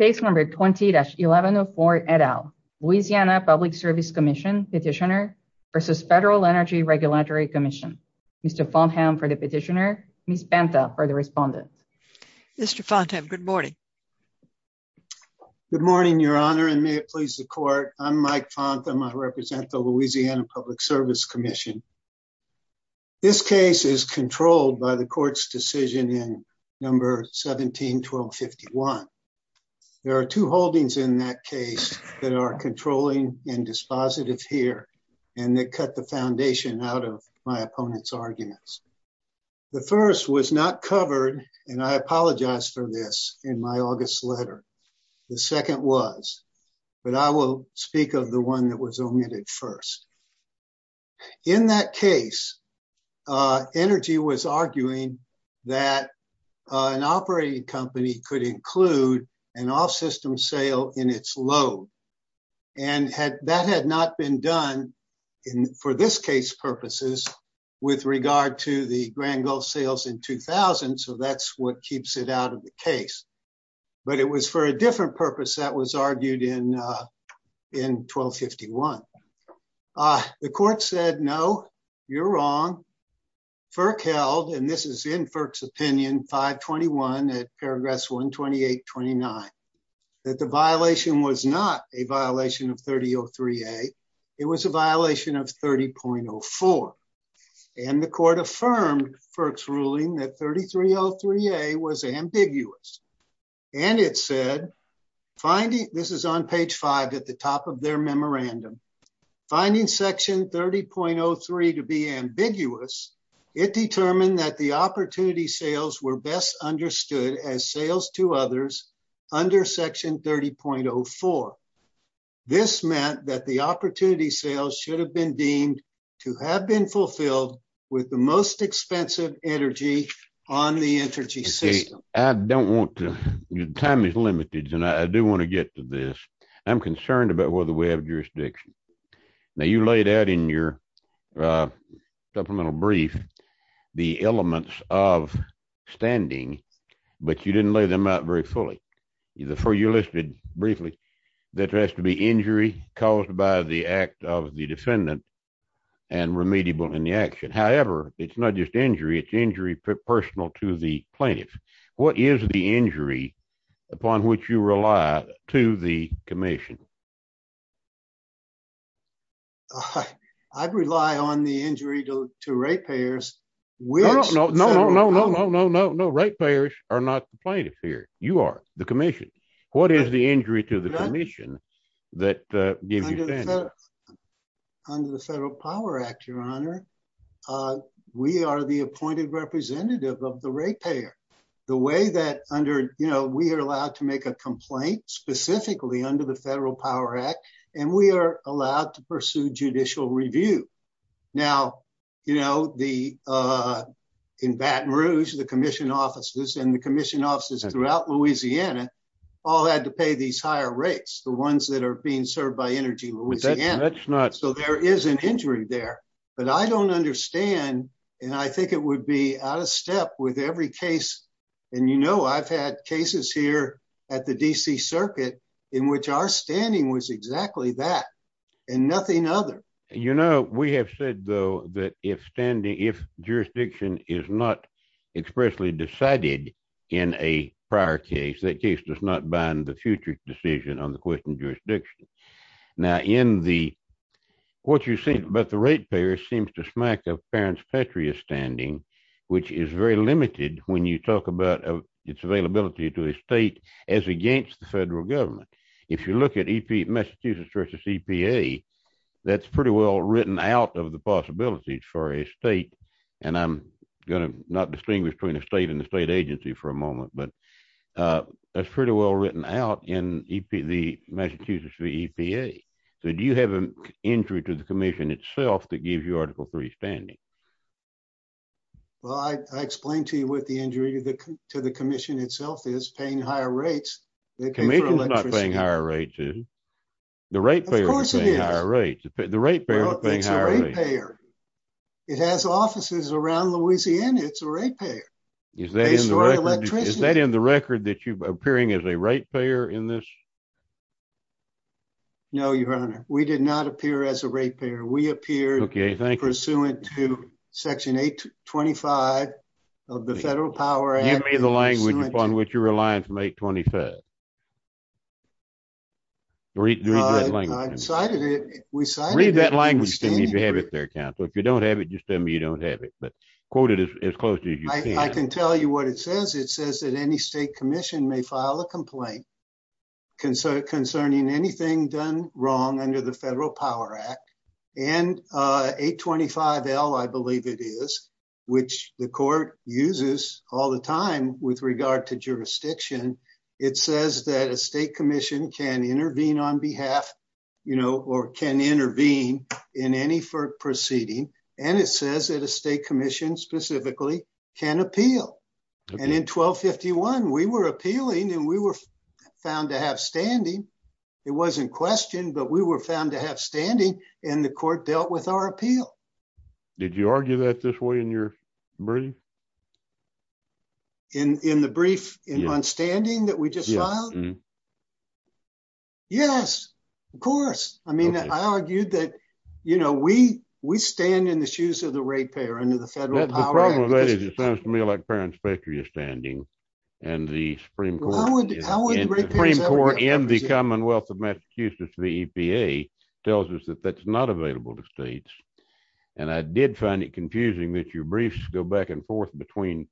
Case number 20-1104 et al. Louisiana Public Service Commission Petitioner versus Federal Energy Regulatory Commission. Mr. Fontham for the Petitioner, Ms. Banta for the Respondent. Mr. Fontham, good morning. Good morning, Your Honor, and may it please the Court. I'm Mike Fontham. I represent the Louisiana Public Service Commission. This case is controlled by the Court's decision in number 17-1251. There are two holdings in that case that are controlling and dispositive here and that cut the foundation out of my opponent's arguments. The first was not covered, and I apologize for this, in my August letter. The second was, but I will speak of the one that was omitted first. In that case, Energy was arguing that an operating company could include an off-system sale in its load, and that had not been done for this case purposes with regard to the Grand Gulf sales in 2000, so that's what keeps it out of the case. But it was for a different purpose that was argued in 12-51. The Court said, no, you're wrong. FERC held, and this is in FERC's opinion, 5-21 at Paragraphs 128-29, that the violation was not a violation of 30-03a. It was a violation of 30-04, and the Court affirmed FERC's ruling that 30-03a was ambiguous, and it said, this is on page 5 at the top of their memorandum, finding Section 30.03 to be ambiguous, it determined that the opportunity sales were best understood as sales to others under Section 30.04. This meant that the opportunity sales should have been deemed to have been fulfilled with the most expensive energy on the energy system. I don't want to, time is limited, and I do want to get to this. I'm concerned about whether we have jurisdiction. Now you laid out in your supplemental brief the elements of standing, but you didn't lay them out very fully. Before you listed briefly, there has to be injury caused by the act of the defendant and remediable in the action. However, it's not just injury, it's injury personal to the plaintiff. What is the injury upon which you rely to the Commission? I rely on the injury to rate payers. No, no, no, no, no, no, no, no. Rate payers. What is the injury to the Commission? Under the Federal Power Act, Your Honor, we are the appointed representative of the rate payer. We are allowed to make a complaint specifically under the Federal Power Act, and we are allowed to pursue judicial review. Now, you know, in Baton Rouge, the Commission offices and the Commission offices throughout Louisiana all had to pay these higher rates, the ones that are being served by Energy Louisiana. So, there is an injury there, but I don't understand, and I think it would be out of step with every case. And you know, I've had cases here at the D.C. Circuit in which our standing was exactly that and nothing other. You know, we have said, though, that if standing, if jurisdiction is not expressly decided in a prior case, that case does not bind the future decision on the question of jurisdiction. Now, in the, what you've seen about the rate payers seems to smack a parent's patria standing, which is very limited when you talk about its availability to a state as against the federal government. If you look at Massachusetts versus EPA, that's pretty well written out of the possibilities for a state, and I'm going to not distinguish between a state and the state agency for a moment, but that's pretty well written out in the Massachusetts EPA. So, do you have an injury to the Commission itself that gives you Article III standing? Well, I explained to you what the injury to the Commission itself is, paying higher rates. The Commission's not paying higher rates, is it? The rate payers are paying higher rates. The rate payers are paying higher rates. Well, it's a rate payer. It has offices around Louisiana. It's a rate payer. Is that in the record that you're appearing as a rate payer in this? No, Your Honor. We did not appear as a rate payer. We appeared pursuant to Section 825 of the Federal Power Act. Give me the language upon which you're relying from 825. Read that language. I decided it. Read that language if you have it there, counsel. If you don't have it, just tell me you don't have it, but quote it as close as you can. I can tell you what it says. It says that any state commission may file a complaint concerning anything done wrong under the Federal Power Act, and 825L, I believe it is, which the court uses all the time with regard to jurisdiction, it says that a state commission can intervene on behalf, you know, or can intervene in any proceeding, and it says that a state commission specifically can appeal. And in 1251, we were appealing, and we were found to have standing. It wasn't questioned, but we were found to have standing, and the court dealt with our brief. In the brief on standing that we just filed? Yes, of course. I mean, I argued that, you know, we stand in the shoes of the rate payer under the Federal Power Act. The problem with that is it sounds to me like parents' patria standing, and the Supreme Court in the Commonwealth of Massachusetts, the EPA, tells us that that's not available to states, and I did find it confusing that your briefs go back and forth between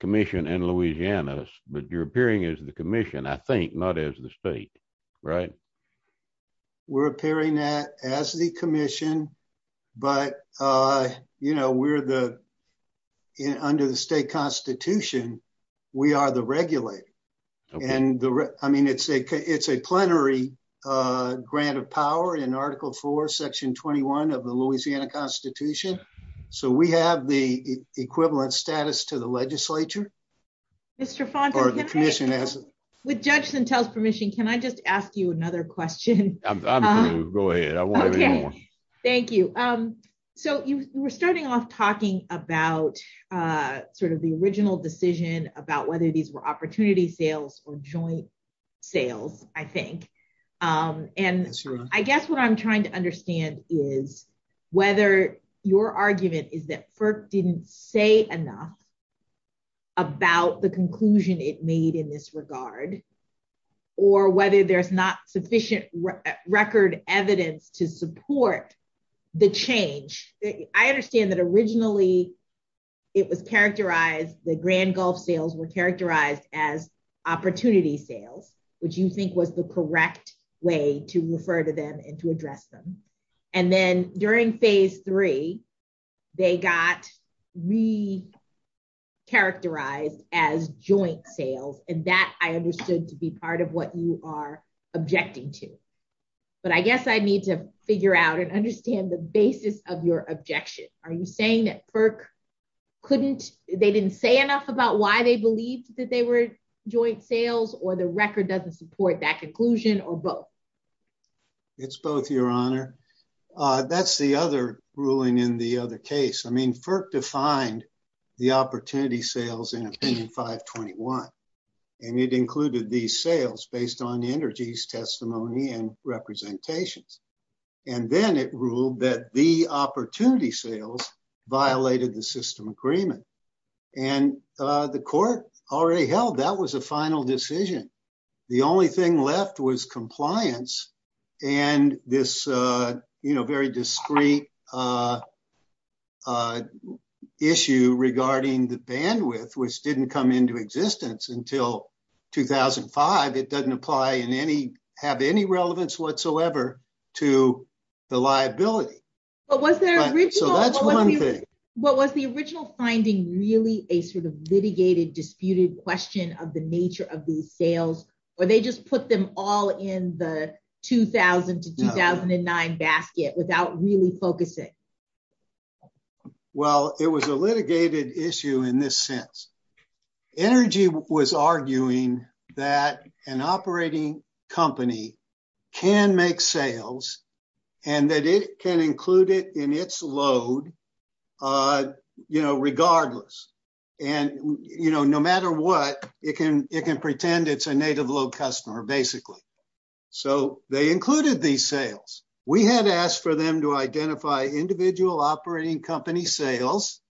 commission and Louisiana's, but you're appearing as the commission, I think, not as the state, right? We're appearing that as the commission, but, you know, we're the, under the state constitution, we are the regulator, and the, I mean, it's a plenary grant of power in Article 4, Section 21 of the Louisiana Constitution, so we have the equivalent status to the legislature. Mr. Fonton, can I just ask you another question? Go ahead, I won't have any more. Okay, thank you. So you were starting off talking about sort of the original decision about whether these were opportunity sales or joint sales, I think, and I guess what I'm trying to understand is whether your argument is that FERC didn't say enough about the conclusion it made in this regard, or whether there's not sufficient record evidence to support the change. I understand that originally it was characterized, the Grand Gulf sales were characterized as opportunity sales, which you think was the correct way to refer to them and to address them, and then during Phase 3, they got re-characterized as joint sales, and that I understood to be part of what you are objecting to, but I guess I need to figure out and understand the basis of your objection. Are you saying that FERC couldn't, they didn't say enough about why they believed that they were joint sales, or the record doesn't support that conclusion, or both? It's both, Your Honor. That's the other ruling in the other case. I mean, FERC defined the opportunity sales in Opinion 521, and it included these sales based on Energy's testimony and representations, and then it ruled that the opportunity sales violated the system agreement, and the court already held that was a final decision. The only thing left was compliance, and this, you know, very discreet issue regarding the bandwidth, which didn't come into existence until 2005. It doesn't apply in any, have any relevance whatsoever to the liability. But was the original finding really a sort of litigated, disputed question of the nature of these sales, or they just put them all in the 2000 to 2009 basket without really focusing? Well, it was a litigated issue in this sense. Energy was arguing that an operating company can make sales, and that it can include it in its load, you know, regardless, and, you know, no matter what, it can, it can pretend it's a native load customer, basically. So they included these sales. We had asked for them to identify individual operating company sales,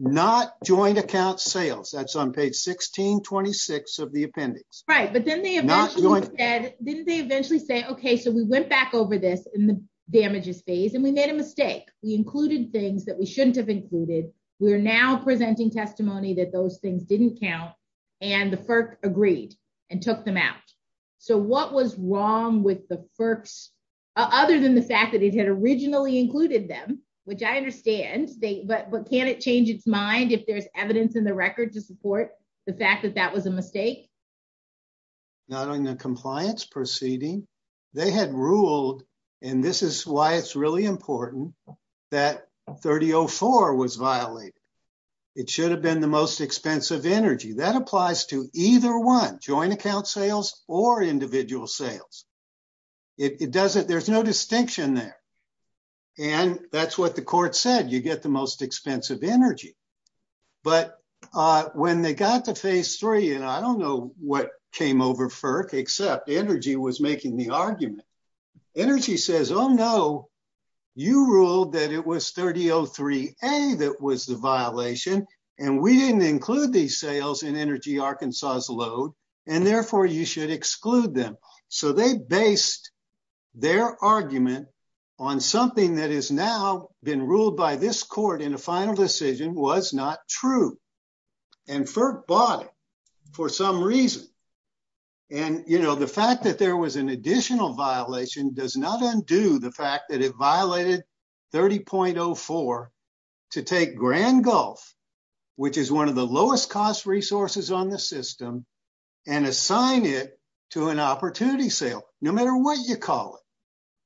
not joint sales. That's on page 1626 of the appendix. Right, but then they eventually said, okay, so we went back over this in the damages phase, and we made a mistake. We included things that we shouldn't have included. We are now presenting testimony that those things didn't count, and the FERC agreed and took them out. So what was wrong with the FERC's, other than the fact that it had originally included them, which I understand, but can it change its mind if there's evidence in the record to support the fact that that was a mistake? Not on the compliance proceeding. They had ruled, and this is why it's really important, that 3004 was violated. It should have been the most expensive energy. That applies to either one, joint account sales or individual sales. It doesn't, there's no distinction there, and that's what the court said. You get the most expensive energy, but when they got to phase three, and I don't know what came over FERC, except Energy was making the argument. Energy says, oh no, you ruled that it was 3003A that was the violation, and we didn't include these sales in Energy Arkansas's load, and therefore you should exclude them. So they based their argument on something that has now been ruled by this court in a final decision was not true, and FERC bought it for some reason, and you know, the fact that there was an additional violation does not undo the fact that it violated 30.04 to take Grand Gulf, which is one of the lowest cost resources on the system, and assign it to an opportunity sale, no matter what you call it,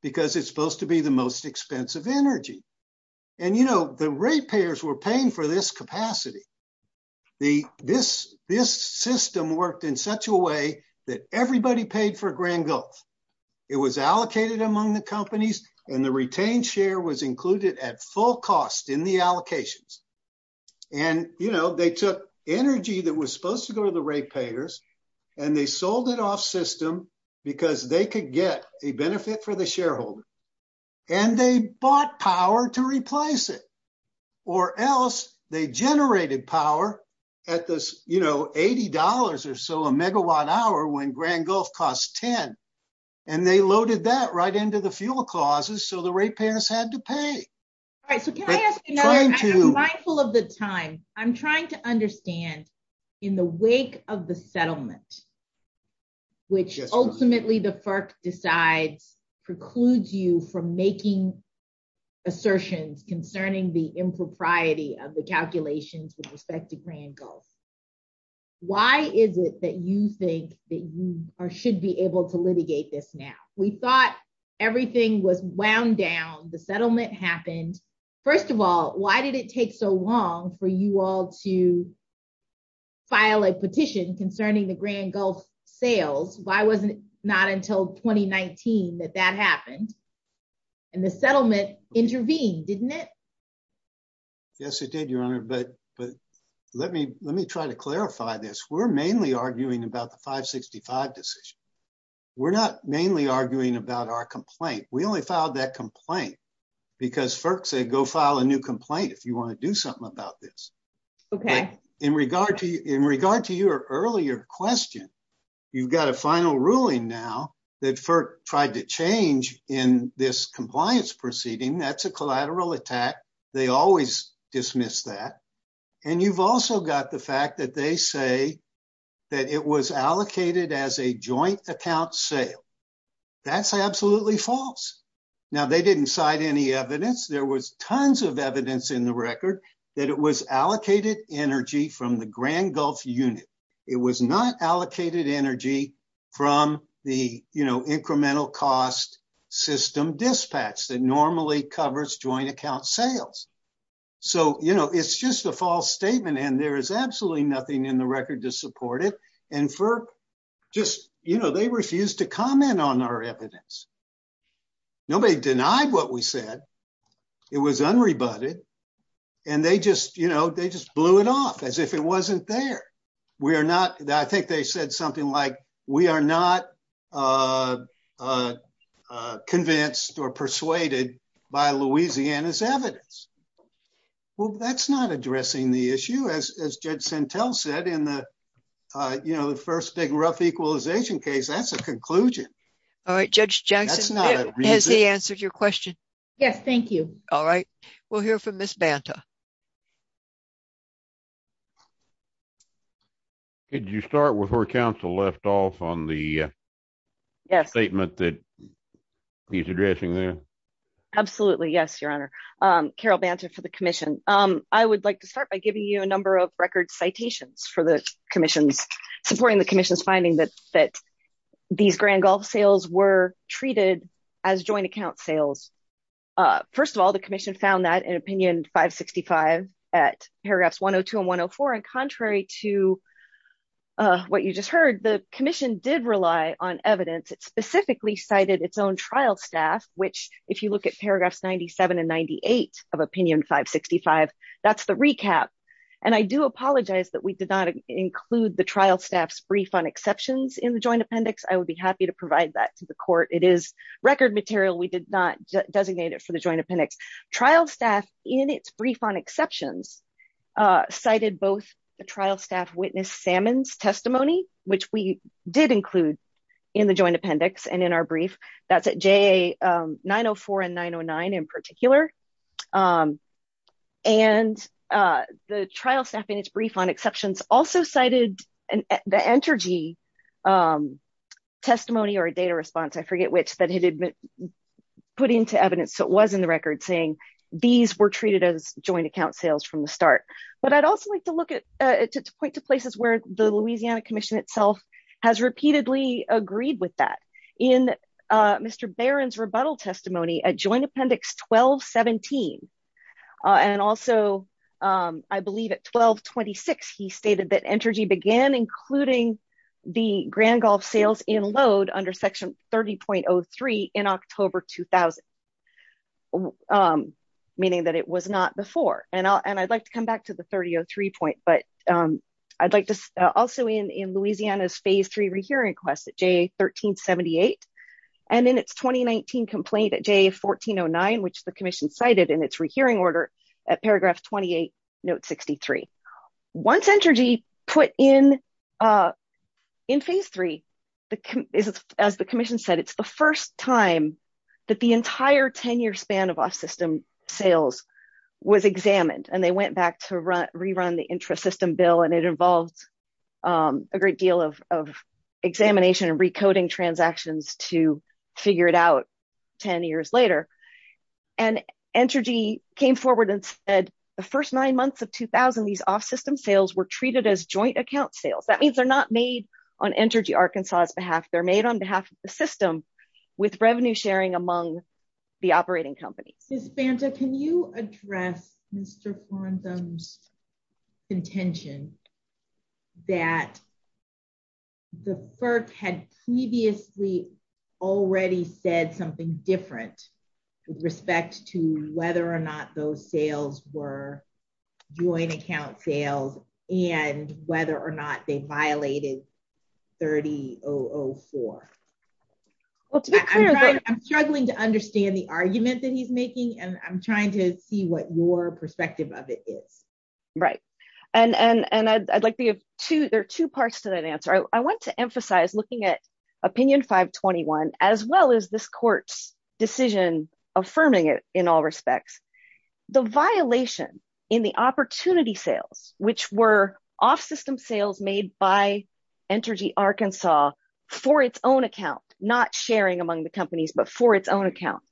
because it's supposed to be the most expensive energy, and you know, the rate payers were paying for this capacity. This system worked in such a way that everybody paid for Grand Gulf. It was allocated among the companies, and the retained share was included at full cost in the allocations, and you know, they took Energy that was supposed to go to the rate payers, and they sold it off system because they could get a benefit for the shareholder, and they bought power to replace it, or else they generated power at this, you know, $80 or so a megawatt hour when Grand Gulf costs $10, and they loaded that right into the fuel causes, so the rate payers had to pay. All right, so can I ask, you know, I'm mindful of the time. I'm trying to understand, in the wake of the settlement, which ultimately the FERC decides precludes you from making assertions concerning the impropriety of the calculations with respect to Grand Gulf, why is it that you think that you should be able to litigate this now? We thought everything was wound down. The settlement happened. First of all, why did it take so long for you all to file a petition concerning the Grand Gulf sales? Why was it not until 2019 that that happened, and the settlement intervened, didn't it? Yes, it did, Your Honor, but let me try to clarify this. We're mainly arguing about the 565 decision. We're not mainly arguing about our complaint. We only filed that complaint because FERC said go file a new complaint if you want to do something about this. Okay. In regard to your earlier question, you've got a final ruling now that FERC tried to change in this compliance proceeding. That's a collateral attack. They always dismiss that, and you've also got the fact that they say that it was allocated as a joint account sale. That's absolutely false. Now, they didn't cite any evidence. There was tons of evidence in the record that it was allocated energy from the Grand Gulf unit. It was not allocated energy from the incremental cost system dispatch that normally covers joint account sales. It's just a false statement, and there is absolutely nothing in the record to support it. They refused to comment on our evidence. Nobody denied what we said. It was unrebutted, and they just blew it off as if it wasn't there. I think they said something like, we are not convinced or persuaded by Louisiana's evidence. Well, that's not addressing the issue, as Judge Santel said in the first big rough equalization case. That's a conclusion. All right. Judge Jackson, has he answered your question? Yes. Thank you. All right. We'll hear from Ms. Banta. Could you start with where counsel left off on the statement that he's addressing there? Absolutely. Yes, Your Honor. Carol Banta for the commission. I would like to start by giving you a number of record citations for the commission's supporting the commission's finding that these as joint account sales. First of all, the commission found that in opinion 565 at paragraphs 102 and 104. Contrary to what you just heard, the commission did rely on evidence. It specifically cited its own trial staff, which if you look at paragraphs 97 and 98 of opinion 565, that's the recap. I do apologize that we did not include the trial staff's brief on exceptions in the joint appendix. We did not designate it for the joint appendix. Trial staff in its brief on exceptions cited both the trial staff witness Salmon's testimony, which we did include in the joint appendix and in our brief. That's at JA 904 and 909 in particular. The trial staff in its brief also cited the energy testimony or a data response. I forget which that had been put into evidence. It was in the record saying these were treated as joint account sales from the start. But I'd also like to point to places where the Louisiana commission itself has repeatedly agreed with that. In Mr. Barron's rebuttal testimony at joint appendix 1217 and also I believe at 1226, he stated that energy began including the Grand Gulf sales in load under section 30.03 in October 2000. Meaning that it was not before. And I'd like to come back to the 30.03 point. But I'd like to also in Louisiana's phase three rehearing request at JA 1378 and in its 2019 complaint at JA 1409, which the commission cited in its rehearing order at paragraph 28, note 63. Once energy put in phase three, as the commission said, it's the first time that the entire 10 year span of off system sales was examined and they went back to rerun the intrasystem bill and it involves a great deal of examination and recoding transactions to figure it out 10 years later. And energy came forward and said the first nine months of 2000, these off system sales were treated as joint account sales. That means they're not made on energy Arkansas's behalf. They're made on behalf of the system with revenue sharing among the operating companies. Ms. Banta, can you address Mr. Farntham's contention that the FERC had previously already said something different with respect to whether or not those sales were joint account sales and whether or not they violated 30.004? Well, I'm struggling to understand the argument that he's making and I'm trying to see what your to that answer. I want to emphasize looking at opinion 521, as well as this court's decision affirming it in all respects, the violation in the opportunity sales, which were off system sales made by energy Arkansas for its own account, not sharing among the companies, but for its own account.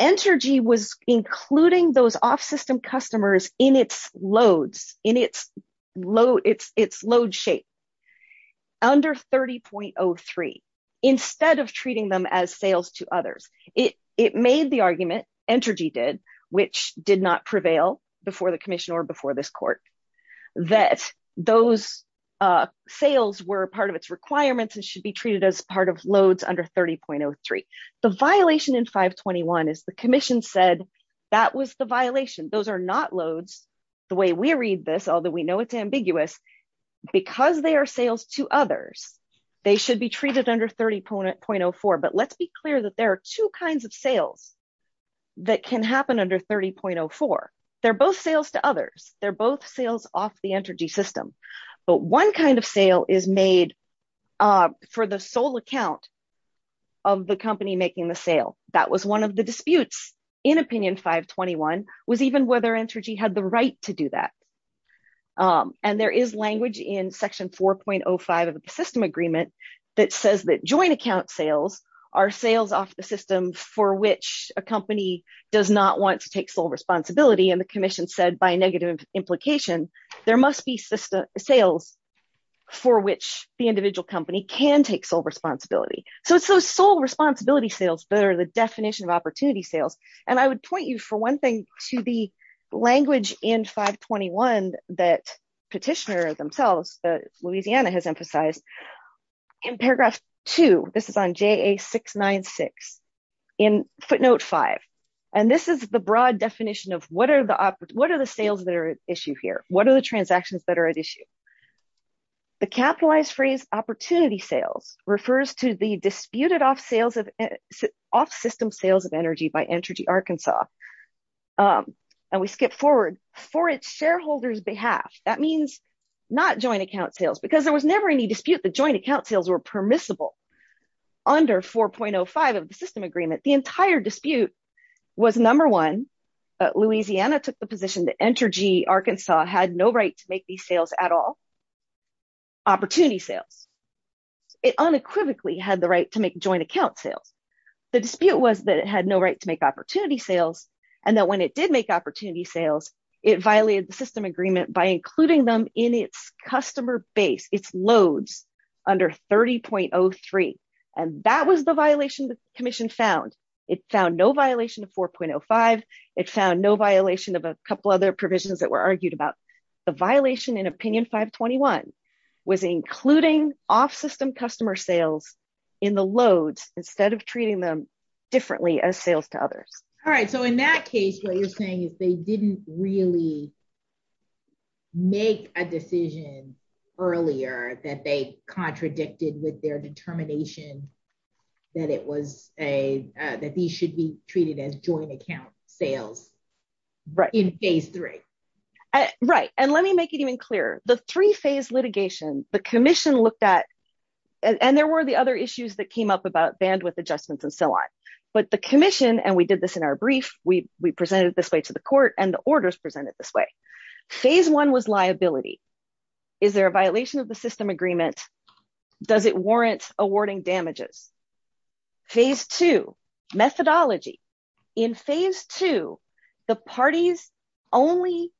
Entergy was including those off system customers in its loads, in its load shape under 30.03, instead of treating them as sales to others. It made the argument, Entergy did, which did not prevail before the commission or before this court, that those sales were part of its requirements and should be treated as part of loads under 30.03. The violation in 521 is the commission said that was the violation. Those are not loads, the way we read this, although we know it's ambiguous, because they are sales to others, they should be treated under 30.04. But let's be clear that there are two kinds of sales that can happen under 30.04. They're both sales to others. They're both sales off the company making the sale. That was one of the disputes in opinion 521 was even whether Entergy had the right to do that. And there is language in section 4.05 of the system agreement that says that joint account sales are sales off the system for which a company does not want to take sole responsibility. And the commission said by negative implication, there must be sales for which the individual company can take sole responsibility. So it's those sole responsibility sales that are the definition of opportunity sales. And I would point you, for one thing, to the language in 521 that petitioner themselves, Louisiana has emphasized in paragraph two, this is on JA 696 in footnote five. And this is the broad definition of what are the sales that issue here? What are the transactions that are at issue? The capitalized phrase opportunity sales refers to the disputed off system sales of energy by Entergy Arkansas. And we skip forward for its shareholders behalf. That means not joint account sales, because there was never any dispute, the joint account sales were permissible under 4.05 of the system agreement. The entire dispute was number one, Louisiana took the position that Entergy Arkansas had no right to make these sales at all. Opportunity sales, it unequivocally had the right to make joint account sales. The dispute was that it had no right to make opportunity sales. And that when it did make opportunity sales, it violated the system agreement by including them in its customer base, its loads under 30.03. And that was the violation that the commission found. It found no violation of 4.05. It found no violation of a couple other provisions that were argued about. The violation in opinion 521 was including off system customer sales in the loads instead of treating them differently as sales to others. All right. So in that case, what you're saying is they didn't really make a decision earlier that they contradicted with their determination that it was a that these should be treated as joint account sales, right in phase three. Right. And let me make it even clearer, the three phase litigation, the commission looked at, and there were the other issues that came up about bandwidth adjustments and so on. But the commission, and we did this in our brief, we presented this way to the court and the orders presented this way. Phase one was liability. Is there a violation of the system agreement? Does it warrant awarding damages? Phase two, methodology. In phase two, the parties only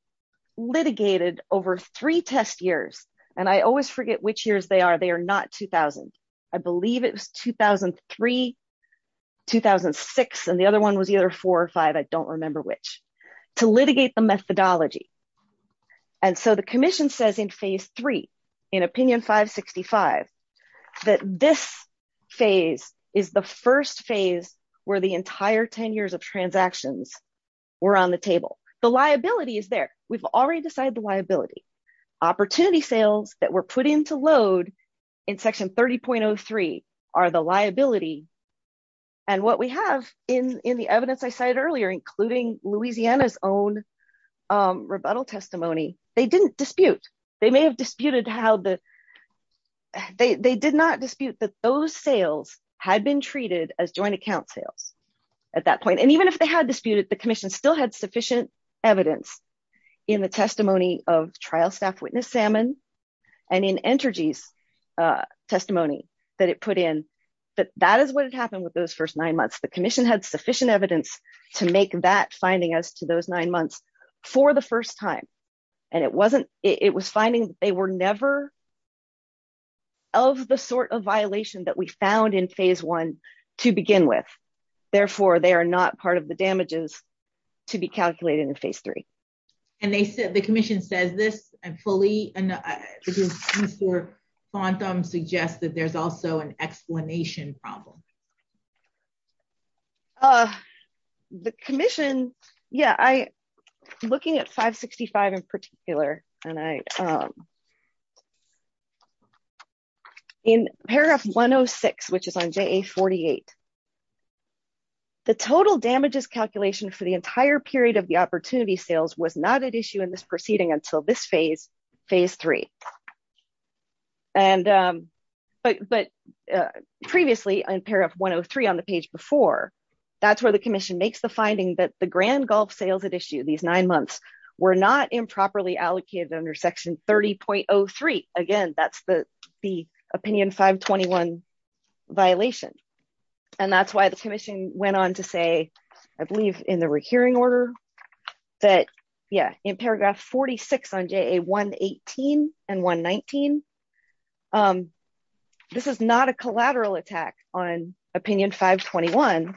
litigated over three test years. And I always forget which years they are. They are not 2000. I believe it was 2003, 2006. And the other one was either four or five. I don't remember which to litigate the methodology. And so the commission says in phase three, in opinion 565, that this phase is the first phase where the entire 10 years of transactions were on the table. The liability is there. We've already decided the liability opportunity sales that were put into load in section 30.03 are the liability. And what we have in the evidence I cited earlier, including Louisiana's own rebuttal testimony, they didn't dispute. They may have disputed how the, they did not dispute that those sales had been treated as joint account sales at that point. And even if they had disputed, the commission still had evidence in the testimony of trial staff witness Salmon and in energy's testimony that it put in, but that is what had happened with those first nine months. The commission had sufficient evidence to make that finding as to those nine months for the first time. And it wasn't, it was finding they were never of the sort of violation that we found in phase one to begin with. Therefore, they are not part of the damages to be calculated in phase three. And they said the commission says this and fully quantum suggested there's also an explanation problem. The commission. Yeah, I looking at 565 in particular, and I in paragraph 106, which is on page 108. The total damages calculation for the entire period of the opportunity sales was not at issue in this proceeding until this phase, phase three. And, but previously, I'm pair of 103 on the page before. That's where the commission makes the finding that the grand golf sales at issue these nine months were not improperly allocated under section 30.03. Again, that's the opinion 521 violation. And that's why the commission went on to say, I believe in the recurring order that, yeah, in paragraph 46 on day 118 and 119. This is not a collateral attack on opinion 521.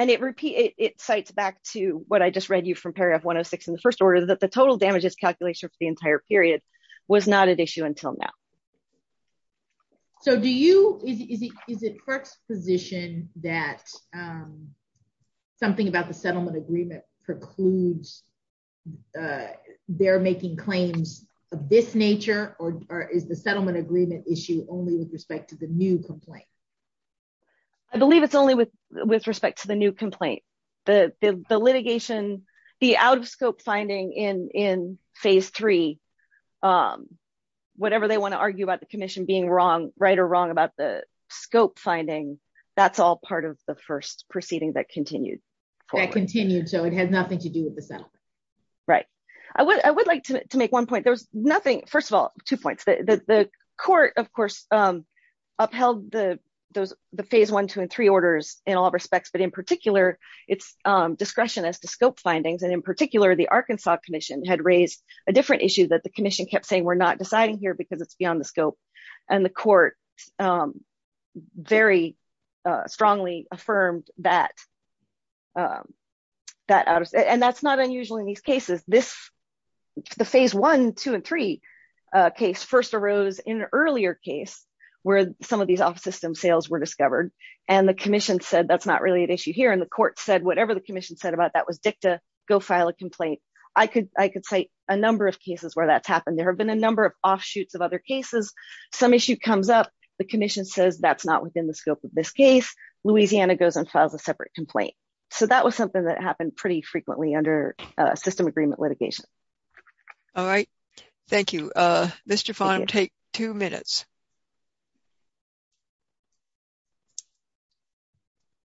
And it repeat it cites back to what I just read you from paragraph 106 in the first order that the total damages calculation for the entire period was not an issue until now. So do you is it first position that something about the settlement agreement precludes they're making claims of this nature, or is the settlement agreement issue only with respect to the new complaint? I believe it's only with with respect to the new complaint, the litigation, the out of scope finding in in phase three, whatever they want to argue about the commission being wrong, right or wrong about the scope finding. That's all part of the first proceeding that continued. I continued so it had nothing to do with the settlement. Right? I would like to make one point. There's nothing first of all, two points that the court, of course, upheld the those the phase one, two and three orders in all respects, but in particular, its discretion as to scope findings. And in particular, the Arkansas Commission had raised a different issue that the commission kept saying we're not deciding here because it's beyond the scope. And the court very strongly affirmed that that and that's not unusual in these cases, this the phase one, two and three case first arose in an earlier case, where some of these off system sales were discovered. And the commission said, that's not really an issue here. And the court said, whatever the commission said about that was dicta, go file a complaint. I could I could say a number of cases where that's happened. There have been a number of offshoots of other cases, some issue comes up, the commission says that's not within the scope of this case, Louisiana goes and files a separate complaint. So that was something that happened pretty quickly. All right. Thank you, Mr. Farnam. Take two minutes.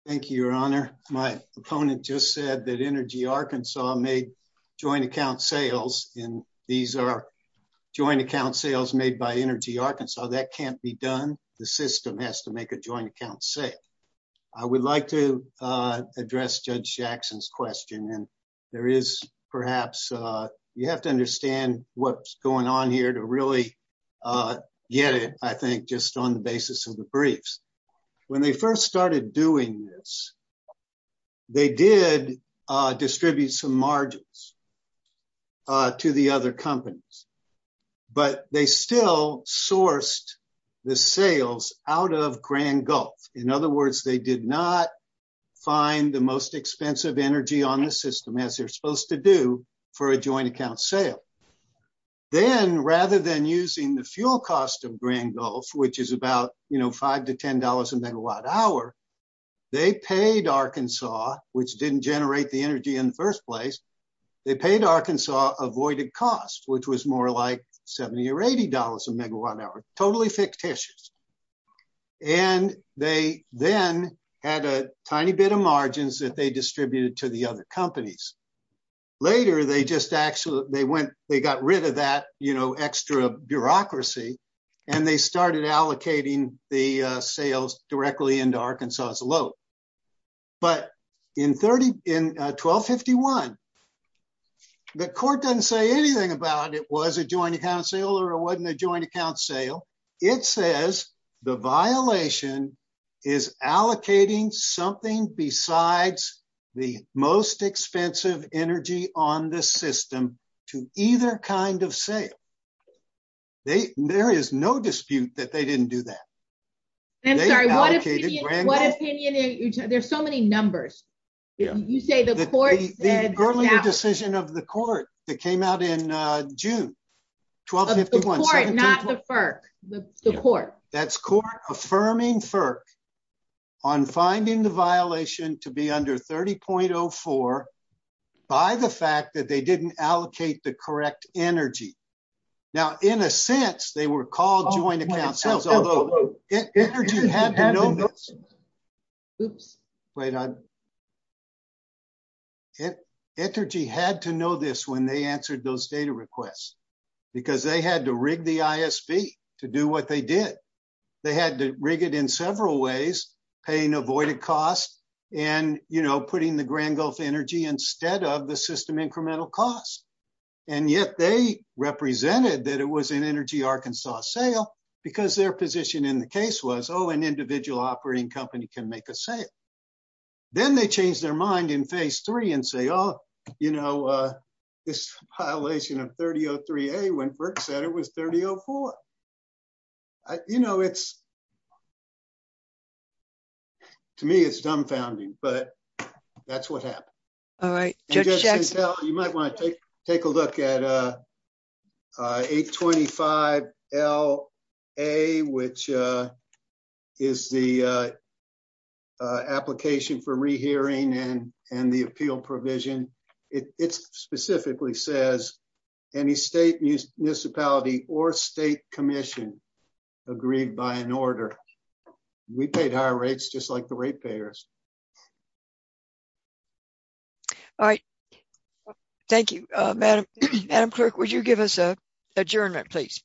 Thank you, Your Honor, my opponent just said that Energy Arkansas made joint account sales in these are joint account sales made by Energy Arkansas that can't be done. The system has to make a joint account say, I would like to address Judge Jackson's question. And there is perhaps, you have to understand what's going on here to really get it, I think, just on the basis of the briefs. When they first started doing this, they did distribute some margins to the other companies. But they still sourced the sales out of Grand Gulf. In other words, they did not find the most expensive energy on the system as they're supposed to do for a joint account sale. Then rather than using the fuel cost of Grand Gulf, which is about, you know, five to $10 a megawatt hour, they paid Arkansas, which didn't generate the energy in the first place. They paid Arkansas avoided cost, which was more like 70 or $80 a megawatt hour, totally fictitious. And they then had a tiny bit of margins that they distributed to the other companies. Later, they just actually they went, they got rid of that, you know, extra bureaucracy. And they started allocating the sales directly into Arkansas's load. But in 1251, the court doesn't say anything about it was a joint account sale or it wasn't a joint account sale. It says the violation is allocating something besides the most expensive energy on the system to either kind of sale. There is no dispute that they didn't do that. There's so many numbers. You say the court decision of the court that came out in June 12, not the FERC, the court, that's court affirming FERC on finding the violation to be under 30.04 by the fact that they didn't allocate the correct energy. Now, in a sense, they were called joint account sales, although Energy had to know this when they answered those data requests, because they had to rig the ISB to do what they did. They had to rig it in several ways, paying avoided cost, and, you know, putting the Grand Gulf Energy instead of the system Arkansas sale, because their position in the case was, oh, an individual operating company can make a sale. Then they change their mind in phase three and say, oh, you know, this violation of 30.03a when FERC said it was 30.04. You know, it's to me, it's dumbfounding, but that's what happened. You might want to take a look at 825LA, which is the application for rehearing and the appeal provision. It specifically says any state municipality or state commission agreed by an order. We paid higher rates just like the ratepayers. All right. Thank you, Madam. Madam Clerk, would you give us a adjournment, please?